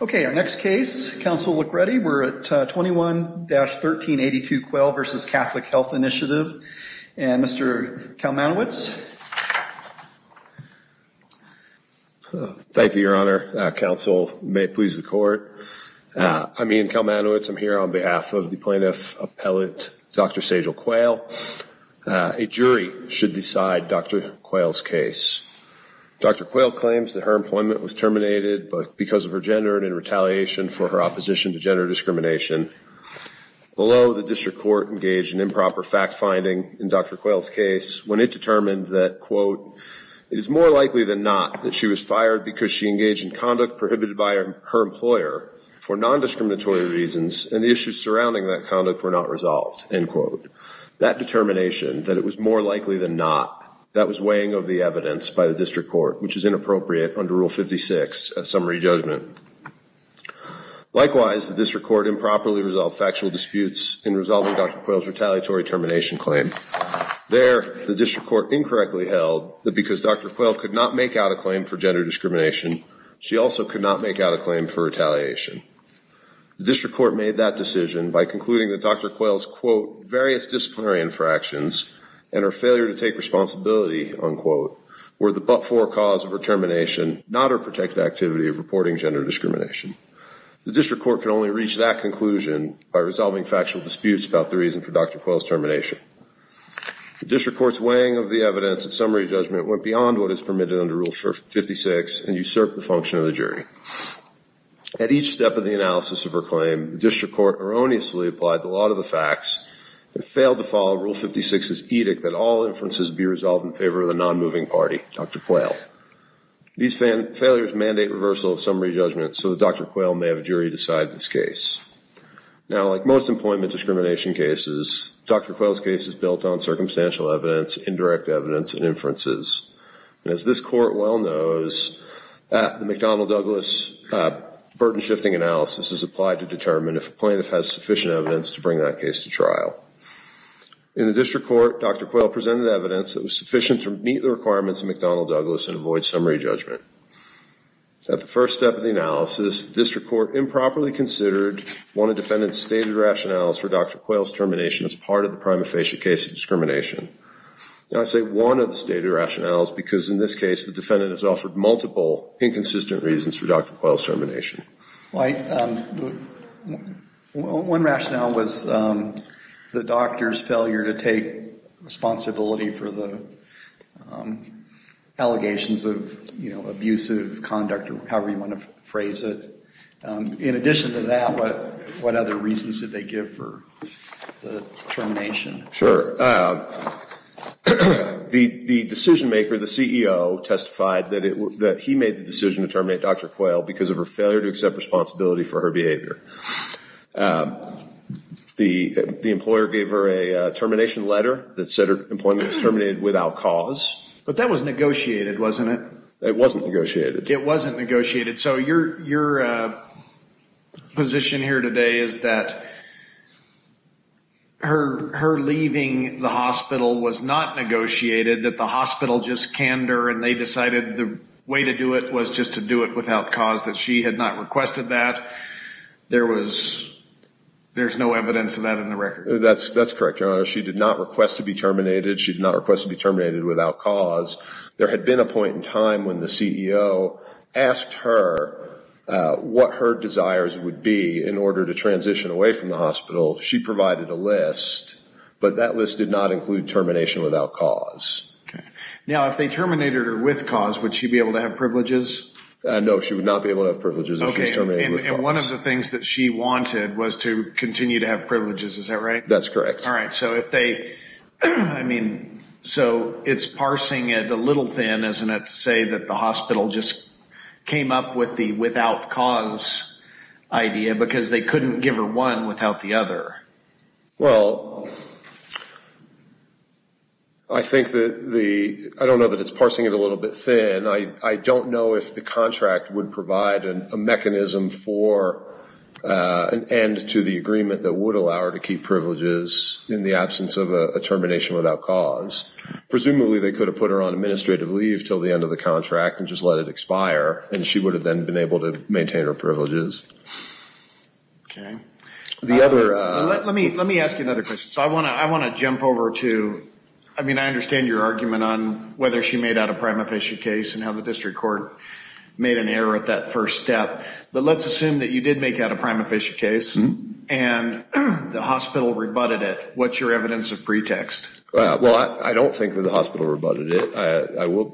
Okay, our next case. Council, look ready. We're at 21-1382 Quayle v. Catholic Health Initiative. And Mr. Kalmanowicz. Thank you, Your Honor. Council, may it please the Court. I'm Ian Kalmanowicz. I'm here on behalf of the plaintiff appellate, Dr. Sejal Quayle. A jury should decide Dr. Quayle's case. Dr. Quayle claims that her employment was terminated because of her gender and in retaliation for her opposition to gender discrimination. Below, the district court engaged in improper fact-finding in Dr. Quayle's case when it determined that, quote, it is more likely than not that she was fired because she engaged in conduct prohibited by her employer for non-discriminatory reasons and the issues surrounding that conduct were not resolved, end quote. That determination, that it was more likely than not, that was weighing of the evidence by the district court, which is inappropriate under Rule 56, a summary judgment. Likewise, the district court improperly resolved factual disputes in resolving Dr. Quayle's retaliatory termination claim. There, the district court incorrectly held that because Dr. Quayle could not make out a claim for gender discrimination, she also could not make out a claim for retaliation. The district court made that decision by concluding that Dr. Quayle's, quote, various disciplinary infractions and her failure to take responsibility, unquote, were the but-for cause of her termination, not her protected activity of reporting gender discrimination. The district court can only reach that conclusion by resolving factual disputes about the reason for Dr. Quayle's termination. The district court's weighing of the evidence and summary judgment went beyond what is permitted under Rule 56 and usurped the function of the jury. At each step of the analysis of her claim, the district court erroneously applied the law to the facts and failed to follow Rule 56's edict that all inferences be resolved in favor of the non-moving party, Dr. Quayle. These failures mandate reversal of summary judgment so that Dr. Quayle may have a jury decide this case. Now, like most employment discrimination cases, Dr. Quayle's case is built on circumstantial evidence, indirect evidence, and inferences. And as this court well knows, the McDonnell-Douglas burden-shifting analysis is applied to determine if a plaintiff has sufficient evidence to bring that case to trial. In the district court, Dr. Quayle presented evidence that was sufficient to meet the requirements of McDonnell-Douglas and avoid summary judgment. At the first step of the analysis, the district court improperly considered one of defendants' stated rationales for Dr. Quayle's termination as part of the prima facie case of discrimination. Now, I say one of the stated rationales because in this case the defendant has offered multiple inconsistent reasons for Dr. Quayle's termination. One rationale was the doctor's failure to take responsibility for the allegations of, you know, abusive conduct or however you want to phrase it. In addition to that, what other reasons did they give for the termination? Sure. The decision maker, the CEO, testified that he made the decision to terminate Dr. Quayle because of her failure to accept responsibility for her behavior. The employer gave her a termination letter that said her employment was terminated without cause. But that was negotiated, wasn't it? It wasn't negotiated. It wasn't negotiated. So your position here today is that her leaving the hospital was not negotiated, that the hospital just canned her and they decided the way to do it was just to do it without cause, that she had not requested that. There's no evidence of that in the record. That's correct, Your Honor. She did not request to be terminated. She did not request to be terminated without cause. There had been a point in time when the CEO asked her what her desires would be in order to transition away from the hospital. She provided a list, but that list did not include termination without cause. Now, if they terminated her with cause, would she be able to have privileges? No, she would not be able to have privileges if she was terminated with cause. And one of the things that she wanted was to continue to have privileges, is that right? That's correct. All right. So if they, I mean, so it's parsing it a little thin, isn't it, to say that the hospital just came up with the without cause idea because they couldn't give her one without the other? Well, I think that the, I don't know that it's parsing it a little bit thin. I don't know if the contract would provide a mechanism for an end to the agreement that would allow her to keep privileges in the absence of a termination without cause. Presumably they could have put her on administrative leave until the end of the contract and just let it expire, and she would have then been able to maintain her privileges. Okay. Let me ask you another question. So I want to jump over to, I mean, I understand your argument on whether she made out a prime official case and how the district court made an error at that first step, but let's assume that you did make out a prime official case and the hospital rebutted it, what's your evidence of pretext? Well, I don't think that the hospital rebutted it,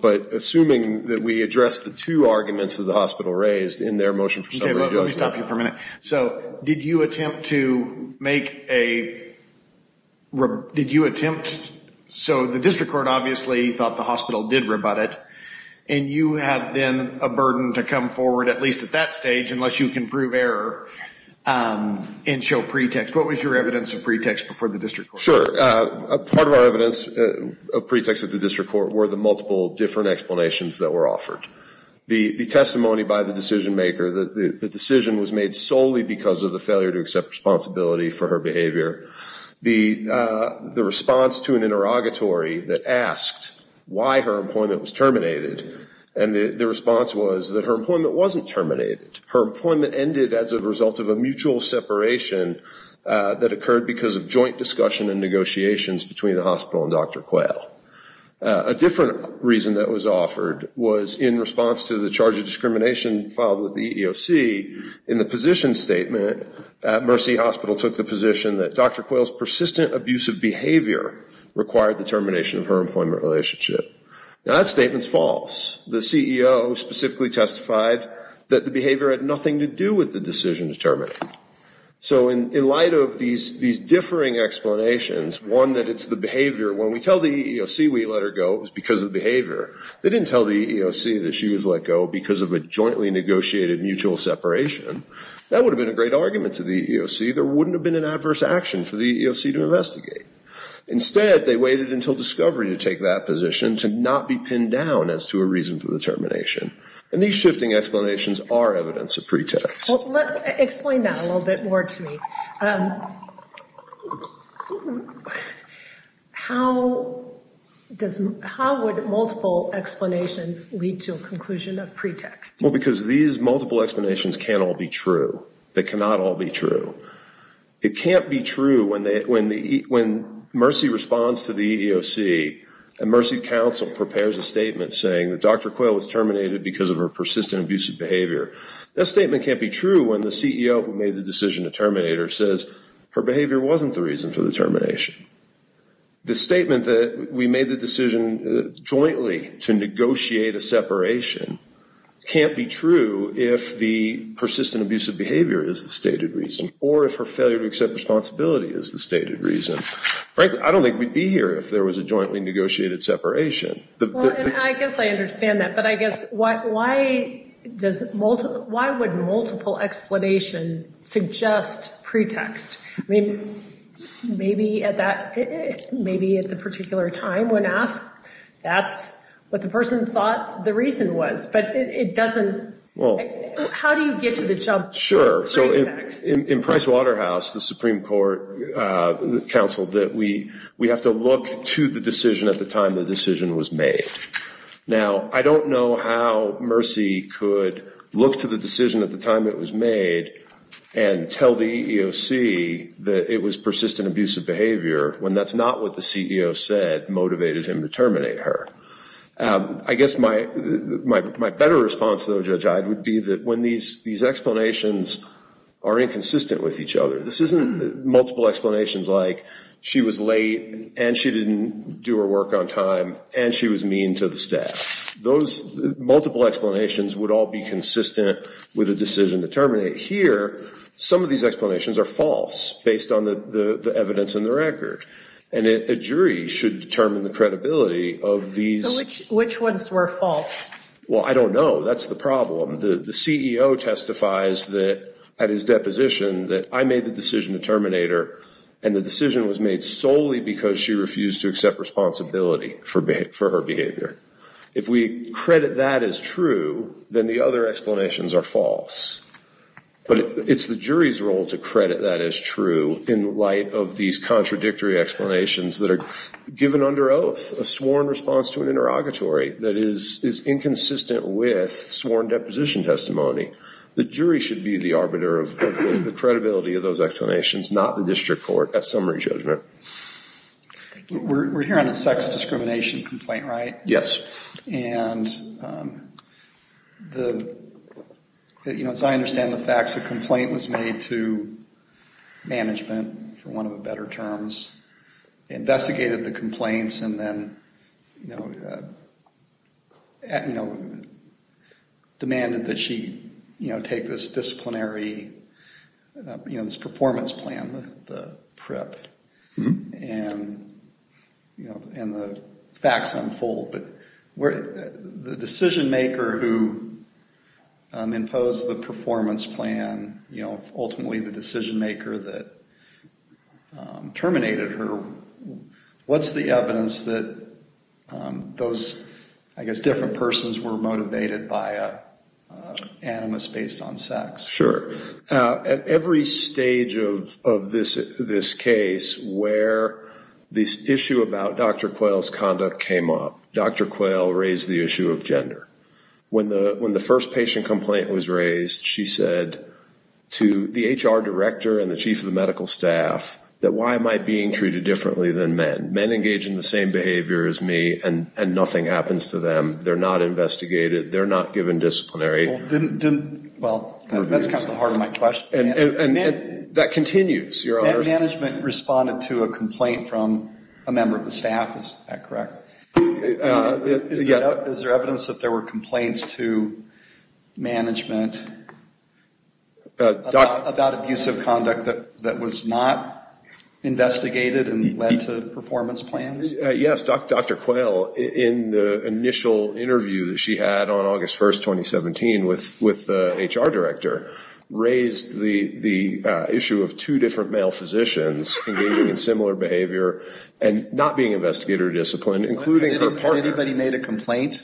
but assuming that we address the two arguments that the hospital raised in their motion for summary judgment. Okay, let me stop you for a minute. So did you attempt to make a, did you attempt, so the district court obviously thought the hospital did rebut it, and you had then a burden to come forward, at least at that stage, unless you can prove error and show pretext. What was your evidence of pretext before the district court? Sure. Part of our evidence of pretext at the district court were the multiple different explanations that were offered. The testimony by the decision maker, the decision was made solely because of the failure to accept responsibility for her behavior. The response to an interrogatory that asked why her employment was terminated, and the response was that her employment wasn't terminated. Her employment ended as a result of a mutual separation that occurred because of joint discussion and negotiations between the hospital and Dr. Quayle. A different reason that was offered was in response to the charge of discrimination filed with the EEOC, in the position statement, Mercy Hospital took the position that Dr. Quayle's persistent abusive behavior required the termination of her employment relationship. Now that statement's false. The CEO specifically testified that the behavior had nothing to do with the decision to terminate. So in light of these differing explanations, one, that it's the behavior, when we tell the EEOC we let her go, it was because of the behavior. They didn't tell the EEOC that she was let go because of a jointly negotiated mutual separation. That would have been a great argument to the EEOC. There wouldn't have been an adverse action for the EEOC to investigate. Instead, they waited until discovery to take that position, to not be pinned down as to a reason for the termination. And these shifting explanations are evidence of pretext. Explain that a little bit more to me. How would multiple explanations lead to a conclusion of pretext? Well, because these multiple explanations can't all be true. They cannot all be true. It can't be true when Mercy responds to the EEOC, and Mercy Council prepares a statement saying that Dr. Quayle was terminated because of her persistent abusive behavior. That statement can't be true when the CEO who made the decision to terminate her says, her behavior wasn't the reason for the termination. The statement that we made the decision jointly to negotiate a separation can't be true if the persistent abusive behavior is the stated reason, or if her failure to accept responsibility is the stated reason. Frankly, I don't think we'd be here if there was a jointly negotiated separation. I guess I understand that, but I guess why would multiple explanations suggest pretext? I mean, maybe at the particular time when asked, that's what the person thought the reason was, but it doesn't. How do you get to the jump? Sure, so in Price Waterhouse, the Supreme Court counseled that we have to look to the decision at the time the decision was made. Now, I don't know how Mercy could look to the decision at the time it was made and tell the EEOC that it was persistent abusive behavior when that's not what the CEO said motivated him to terminate her. I guess my better response, though, Judge Iyde, would be that when these explanations are inconsistent with each other. This isn't multiple explanations like she was late and she didn't do her work on time and she was mean to the staff. Those multiple explanations would all be consistent with a decision to terminate. Here, some of these explanations are false based on the evidence in the record, and a jury should determine the credibility of these. Which ones were false? Well, I don't know. That's the problem. The CEO testifies that at his deposition that I made the decision to terminate her, and the decision was made solely because she refused to accept responsibility for her behavior. If we credit that as true, then the other explanations are false. But it's the jury's role to credit that as true in light of these contradictory explanations that are given under oath, a sworn response to an interrogatory that is inconsistent with sworn deposition testimony. The jury should be the arbiter of the credibility of those explanations, not the district court at summary judgment. We're here on a sex discrimination complaint, right? Yes. And, you know, as I understand the facts, a complaint was made to management, for want of a better term. They investigated the complaints and then, you know, demanded that she, you know, take this disciplinary, you know, this performance plan, the PREP. And, you know, and the facts unfold. But the decision maker who imposed the performance plan, you know, ultimately the decision maker that terminated her, what's the evidence that those, I guess, different persons were motivated by an animus based on sex? Sure. At every stage of this case where this issue about Dr. Quayle's conduct came up, Dr. Quayle raised the issue of gender. When the first patient complaint was raised, she said to the HR director and the chief of the medical staff that why am I being treated differently than men? Men engage in the same behavior as me and nothing happens to them. They're not investigated. They're not given disciplinary review. Well, that's kind of the heart of my question. And that continues, Your Honor. Management responded to a complaint from a member of the staff. Is that correct? Is there evidence that there were complaints to management about abusive conduct that was not investigated and led to performance plans? Yes. Dr. Quayle, in the initial interview that she had on August 1, 2017, with the HR director, raised the issue of two different male physicians engaging in similar behavior and not being investigated or disciplined, including her partner. Anybody made a complaint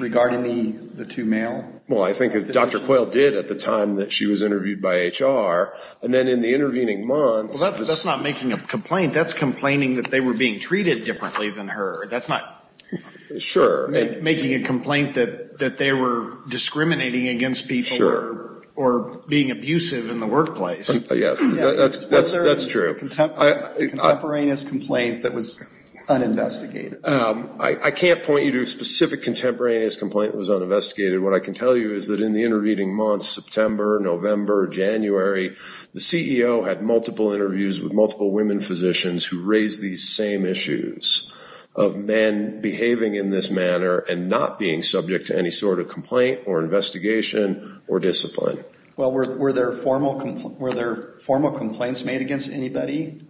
regarding the two male? Well, I think Dr. Quayle did at the time that she was interviewed by HR. And then in the intervening months. That's not making a complaint. That's complaining that they were being treated differently than her. That's not making a complaint that they were discriminating against people or being abusive in the workplace. Yes, that's true. Was there a contemporaneous complaint that was uninvestigated? I can't point you to a specific contemporaneous complaint that was uninvestigated. What I can tell you is that in the intervening months, September, November, January, the CEO had multiple interviews with multiple women physicians who raised these same issues of men behaving in this manner and not being subject to any sort of complaint or investigation or discipline. Well, were there formal complaints made against anybody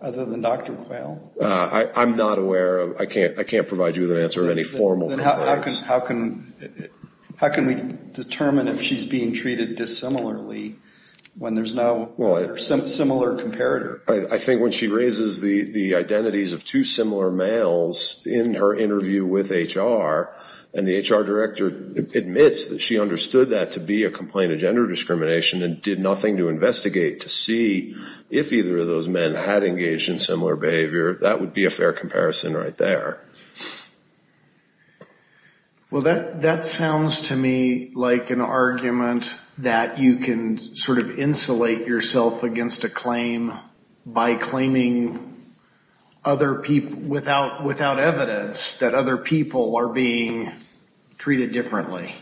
other than Dr. Quayle? I'm not aware of. I can't provide you with an answer of any formal complaints. How can we determine if she's being treated dissimilarly when there's no similar comparator? I think when she raises the identities of two similar males in her interview with HR and the HR director admits that she understood that to be a complaint of gender discrimination and did nothing to investigate to see if either of those men had engaged in similar behavior, that would be a fair comparison right there. Well, that sounds to me like an argument that you can sort of insulate yourself against a claim by claiming without evidence that other people are being treated differently.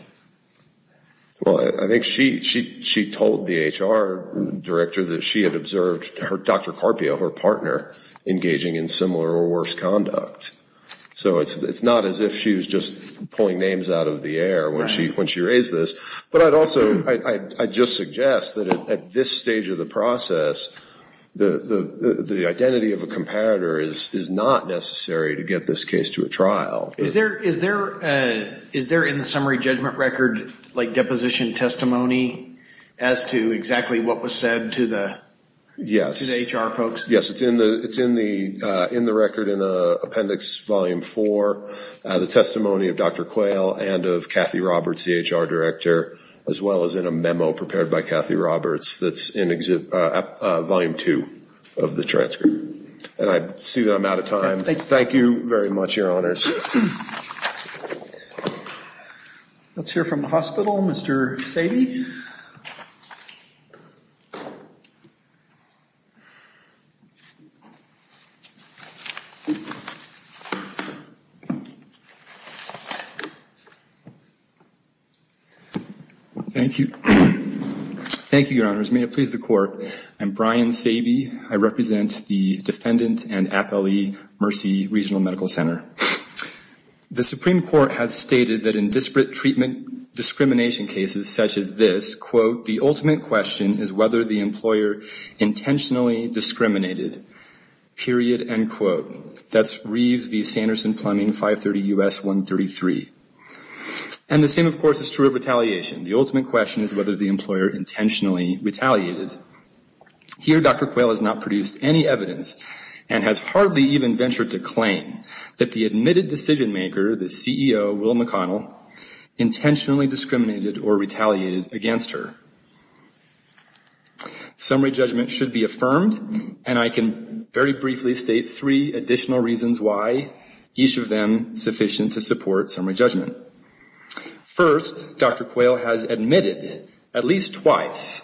Well, I think she told the HR director that she had observed Dr. Carpio, her partner, engaging in similar or worse conduct. So it's not as if she was just pulling names out of the air when she raised this. But I'd also just suggest that at this stage of the process, the identity of a comparator is not necessary to get this case to a trial. Is there in the summary judgment record deposition testimony as to exactly what was said to the HR folks? Yes, it's in the record in Appendix Volume 4, the testimony of Dr. Quayle and of Kathy Roberts, the HR director, as well as in a memo prepared by Kathy Roberts that's in Volume 2 of the transcript. And I see that I'm out of time. Thank you very much, Your Honors. Let's hear from the hospital. Mr. Saby. Thank you. Thank you, Your Honors. May it please the Court. I'm Brian Saby. I represent the defendant and Appellee Mercy Regional Medical Center. The Supreme Court has stated that in disparate treatment discrimination cases such as this, quote, the ultimate question is whether the employer intentionally discriminated, period, end quote. That's Reeves v. Sanderson Plumbing, 530 U.S. 133. And the same, of course, is true of retaliation. The ultimate question is whether the employer intentionally retaliated. Here, Dr. Quayle has not produced any evidence and has hardly even ventured to claim that the admitted decision maker, the CEO, Will McConnell, intentionally discriminated or retaliated against her. Summary judgment should be affirmed, and I can very briefly state three additional reasons why each of them sufficient to support summary judgment. First, Dr. Quayle has admitted, at least twice,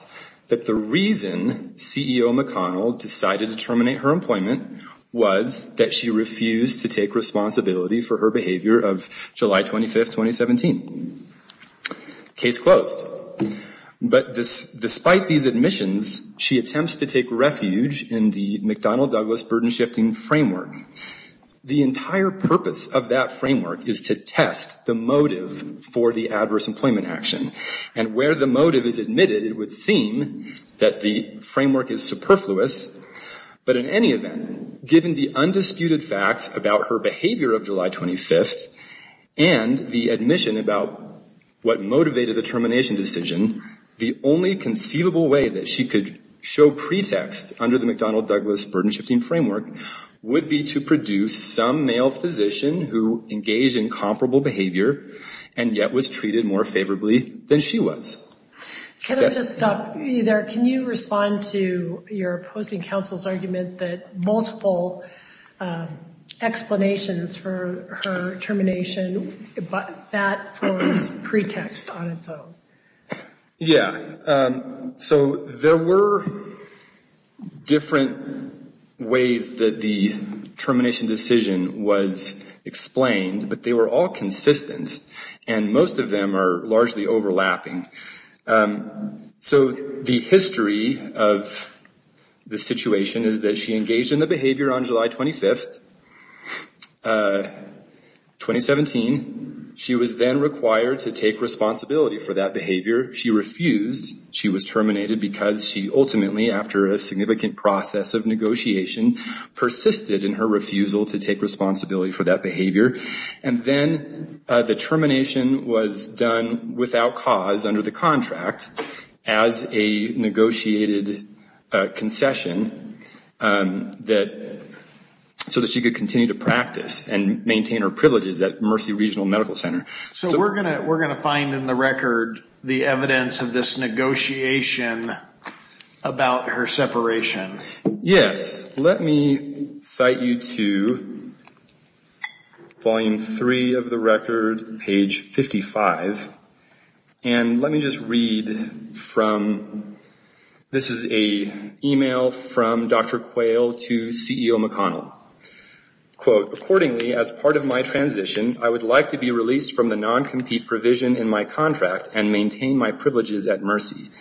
that the reason CEO McConnell decided to terminate her employment was that she refused to take responsibility for her behavior of July 25, 2017. Case closed. But despite these admissions, she attempts to take refuge in the McDonnell-Douglas burden-shifting framework. The entire purpose of that framework is to test the motive for the adverse employment action. And where the motive is admitted, it would seem that the framework is superfluous. But in any event, given the undisputed facts about her behavior of July 25th and the admission about what motivated the termination decision, the only conceivable way that she could show pretext under the McDonnell-Douglas burden-shifting framework would be to produce some male physician who engaged in comparable behavior and yet was treated more favorably than she was. Can I just stop you there? Can you respond to your opposing counsel's argument that multiple explanations for her termination, that forms pretext on its own? Yeah. So there were different ways that the termination decision was explained, but they were all consistent. And most of them are largely overlapping. So the history of the situation is that she engaged in the behavior on July 25th, 2017. She was then required to take responsibility for that behavior. She refused. She was terminated because she ultimately, after a significant process of negotiation, persisted in her refusal to take responsibility for that behavior. And then the termination was done without cause under the contract as a negotiated concession so that she could continue to practice and maintain her privileges at Mercy Regional Medical Center. So we're going to find in the record the evidence of this negotiation about her separation. Yes. Let me cite you to Volume 3 of the record, page 55. And let me just read from, this is an email from Dr. Quayle to CEO McConnell. Quote, accordingly, as part of my transition, I would like to be released from the non-compete provision in my contract and maintain my privileges at Mercy.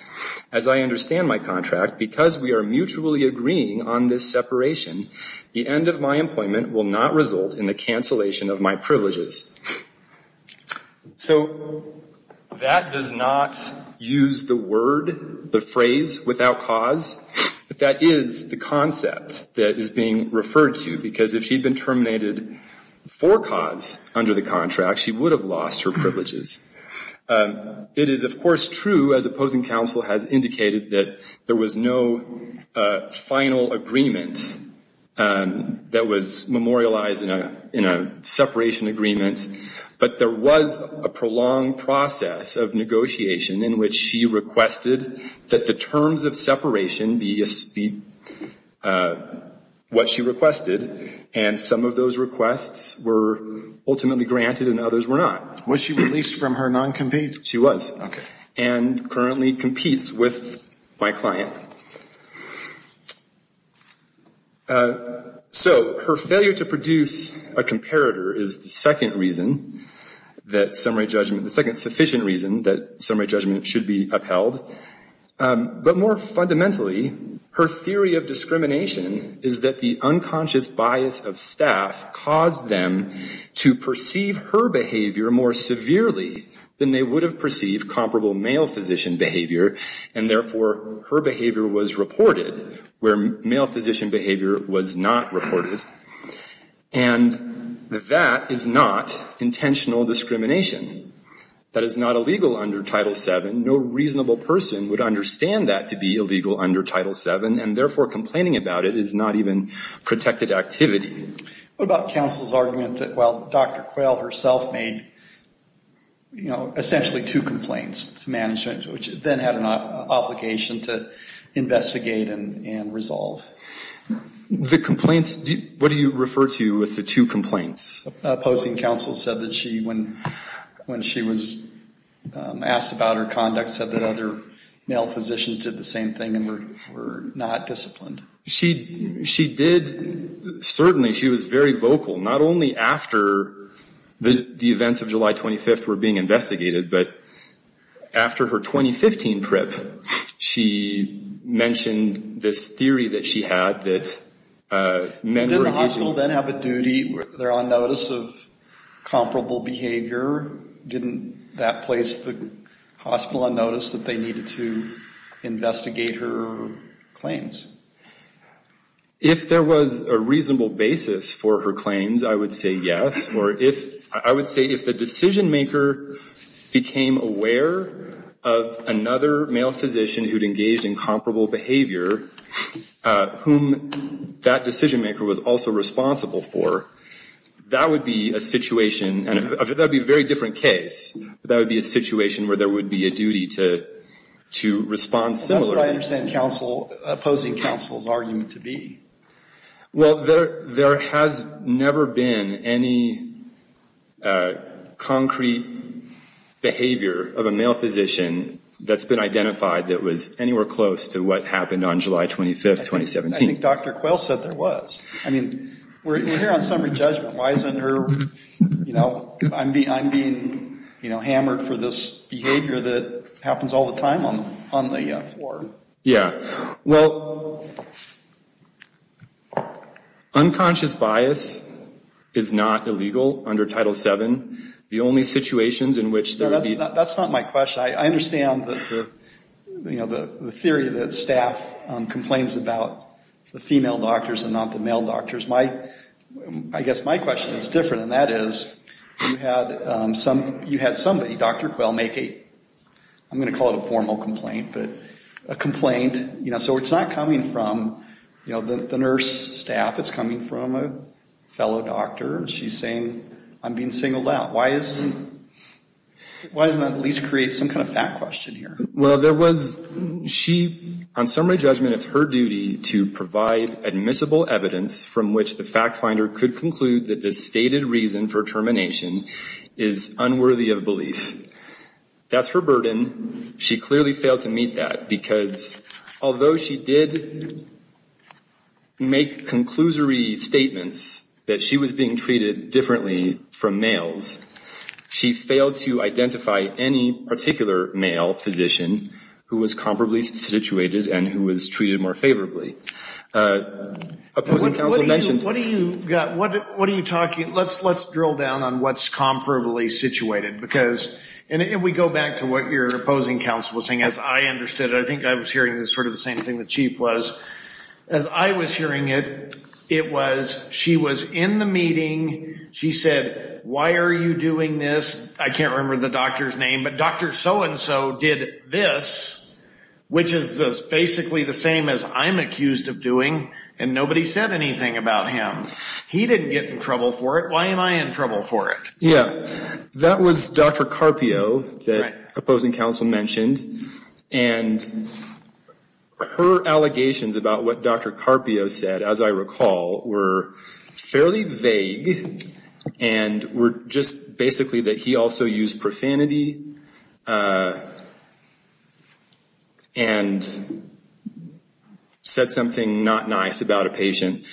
As I understand my contract, because we are mutually agreeing on this separation, the end of my employment will not result in the cancellation of my privileges. So that does not use the word, the phrase, without cause. But that is the concept that is being referred to, because if she had been terminated for cause under the contract, she would have lost her privileges. It is, of course, true, as opposing counsel has indicated, that there was no final agreement that was memorialized in a separation agreement. But there was a prolonged process of negotiation in which she requested that the terms of separation be what she requested. And some of those requests were ultimately granted and others were not. Was she released from her non-compete? She was. Okay. And currently competes with my client. So her failure to produce a comparator is the second reason that summary judgment, the second sufficient reason that summary judgment should be upheld. But more fundamentally, her theory of discrimination is that the unconscious bias of staff to perceive her behavior more severely than they would have perceived comparable male physician behavior, and therefore her behavior was reported where male physician behavior was not reported. And that is not intentional discrimination. That is not illegal under Title VII. No reasonable person would understand that to be illegal under Title VII, and therefore complaining about it is not even protected activity. What about counsel's argument that while Dr. Quayle herself made, you know, essentially two complaints to management, which then had an obligation to investigate and resolve? The complaints, what do you refer to with the two complaints? Opposing counsel said that she, when she was asked about her conduct, said that other male physicians did the same thing and were not disciplined. She did. Certainly she was very vocal, not only after the events of July 25th were being investigated, but after her 2015 trip, she mentioned this theory that she had that men were engaged in. Didn't the hospital then have a duty where they're on notice of comparable behavior? Didn't that place the hospital on notice that they needed to investigate her claims? If there was a reasonable basis for her claims, I would say yes. Or I would say if the decision maker became aware of another male physician who'd engaged in comparable behavior, whom that decision maker was also responsible for, that would be a situation and that would be a very different case. That would be a situation where there would be a duty to respond similarly. That's what I understand opposing counsel's argument to be. Well, there has never been any concrete behavior of a male physician that's been identified that was anywhere close to what happened on July 25th, 2017. I think Dr. Quayle said there was. I mean, we're here on summary judgment. Why isn't her, you know, I'm being hammered for this behavior that happens all the time on the floor. Yeah. Well, unconscious bias is not illegal under Title VII. The only situations in which there would be. That's not my question. I understand the theory that staff complains about the female doctors and not the male doctors. I guess my question is different, and that is you had somebody, Dr. Quayle, make a, I'm going to call it a formal complaint, but a complaint. So it's not coming from the nurse staff. It's coming from a fellow doctor. She's saying I'm being singled out. Why doesn't that at least create some kind of fact question here? Well, there was, she, on summary judgment, it's her duty to provide admissible evidence from which the fact finder could conclude that the stated reason for termination is unworthy of belief. That's her burden. She clearly failed to meet that because although she did make conclusory statements that she was being treated differently from males, she failed to identify any particular male physician who was comparably situated and who was treated more favorably. Opposing counsel mentioned. What are you talking, let's drill down on what's comparably situated because, and we go back to what your opposing counsel was saying, as I understood it. I think I was hearing sort of the same thing the chief was. As I was hearing it, it was she was in the meeting. She said, why are you doing this? I can't remember the doctor's name, but Dr. So-and-so did this, which is basically the same as I'm accused of doing, and nobody said anything about him. He didn't get in trouble for it. Why am I in trouble for it? Yeah, that was Dr. Carpio that opposing counsel mentioned. And her allegations about what Dr. Carpio said, as I recall, were fairly vague and were just basically that he also used profanity and said something not nice about a patient.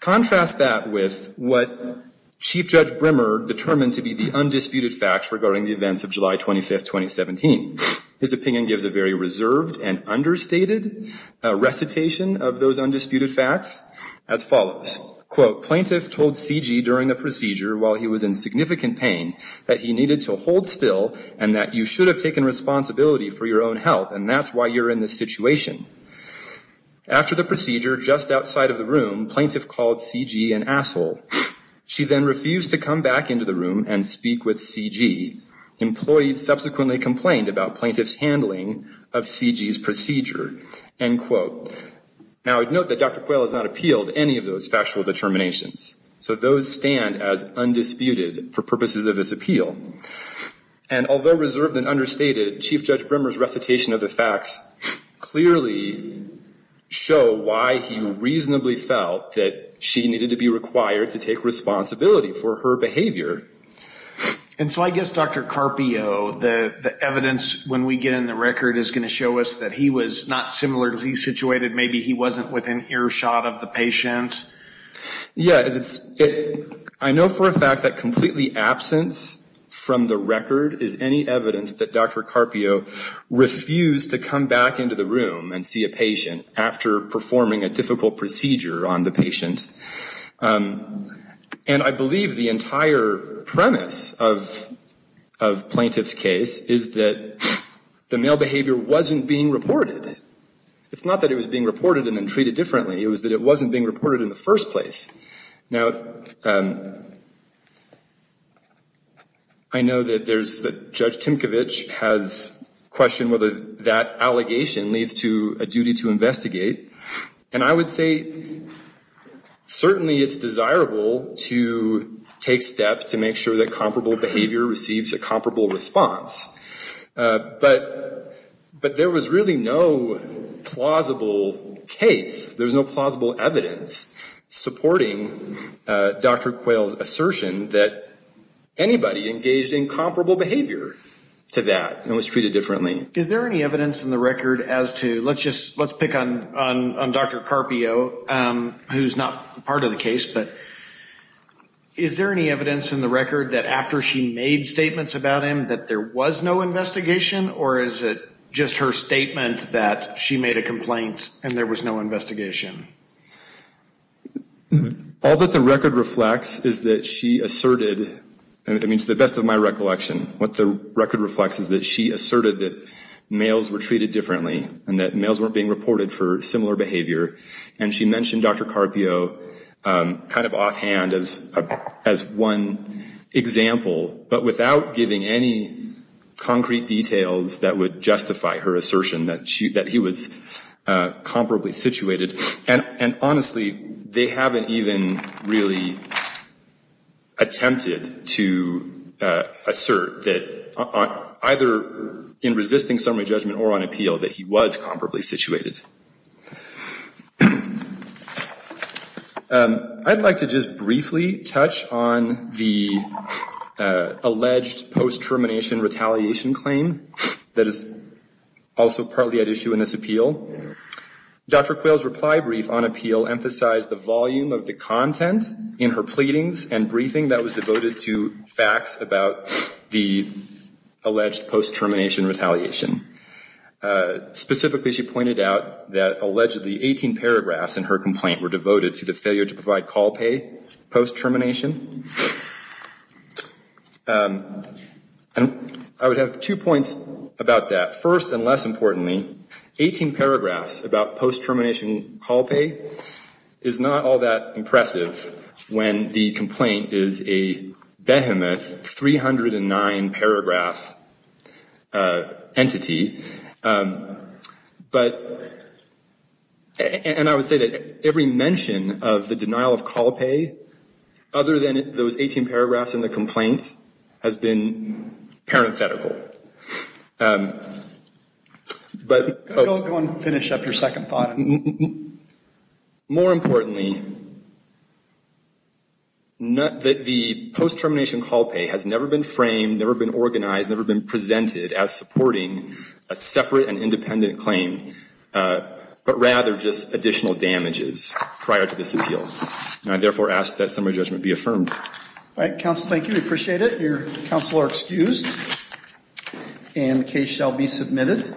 Contrast that with what Chief Judge Brimmer determined to be the undisputed facts regarding the events of July 25, 2017. His opinion gives a very reserved and understated recitation of those undisputed facts as follows. Quote, Plaintiff told C.G. during the procedure, while he was in significant pain, that he needed to hold still and that you should have taken responsibility for your own health, and that's why you're in this situation. After the procedure, just outside of the room, Plaintiff called C.G. an asshole. She then refused to come back into the room and speak with C.G. Employees subsequently complained about Plaintiff's handling of C.G.'s procedure. End quote. Now, note that Dr. Quayle has not appealed any of those factual determinations, so those stand as undisputed for purposes of this appeal. And although reserved and understated, Chief Judge Brimmer's recitation of the facts clearly show why he reasonably felt that she needed to be required to take responsibility for her behavior. And so I guess, Dr. Carpio, the evidence when we get in the record is going to show us that he was not similarly situated. Maybe he wasn't within earshot of the patient. Yeah, I know for a fact that completely absent from the record is any evidence that Dr. Carpio refused to come back into the room and see a patient after performing a difficult procedure on the patient. And I believe the entire premise of Plaintiff's case is that the male behavior wasn't being reported. It's not that it was being reported and then treated differently. It was that it wasn't being reported in the first place. Now, I know that Judge Timkovich has questioned whether that allegation leads to a duty to investigate. And I would say certainly it's desirable to take steps to make sure that comparable behavior receives a comparable response. But there was really no plausible case. There was no plausible evidence supporting Dr. Quayle's assertion that anybody engaged in comparable behavior to that and was treated differently. Is there any evidence in the record as to, let's pick on Dr. Carpio, who's not part of the case, but is there any evidence in the record that after she made statements about him that there was no investigation or is it just her statement that she made a complaint and there was no investigation? All that the record reflects is that she asserted, to the best of my recollection, what the record reflects is that she asserted that males were treated differently and that males weren't being reported for similar behavior. And she mentioned Dr. Carpio kind of offhand as one example, but without giving any concrete details that would justify her assertion that he was comparably situated. And honestly, they haven't even really attempted to assert that either in resisting summary judgment or on appeal that he was comparably situated. I'd like to just briefly touch on the alleged post-termination retaliation claim that is also partly at issue in this appeal. Dr. Quayle's reply brief on appeal emphasized the volume of the content in her pleadings and briefing that was devoted to facts about the alleged post-termination retaliation. Specifically, she pointed out that allegedly 18 paragraphs in her complaint were devoted to the failure to provide call pay post-termination. And I would have two points about that. First and less importantly, 18 paragraphs about post-termination call pay is not all that impressive when the complaint is a behemoth 309-paragraph entity. And I would say that every mention of the denial of call pay other than those 18 paragraphs in the complaint has been parenthetical. Go ahead and finish up your second thought. More importantly, the post-termination call pay has never been framed, never been organized, never been presented as supporting a separate and independent claim, but rather just additional damages prior to this appeal. And I therefore ask that summary judgment be affirmed. All right, counsel, thank you. We appreciate it. Your counsel are excused and the case shall be submitted.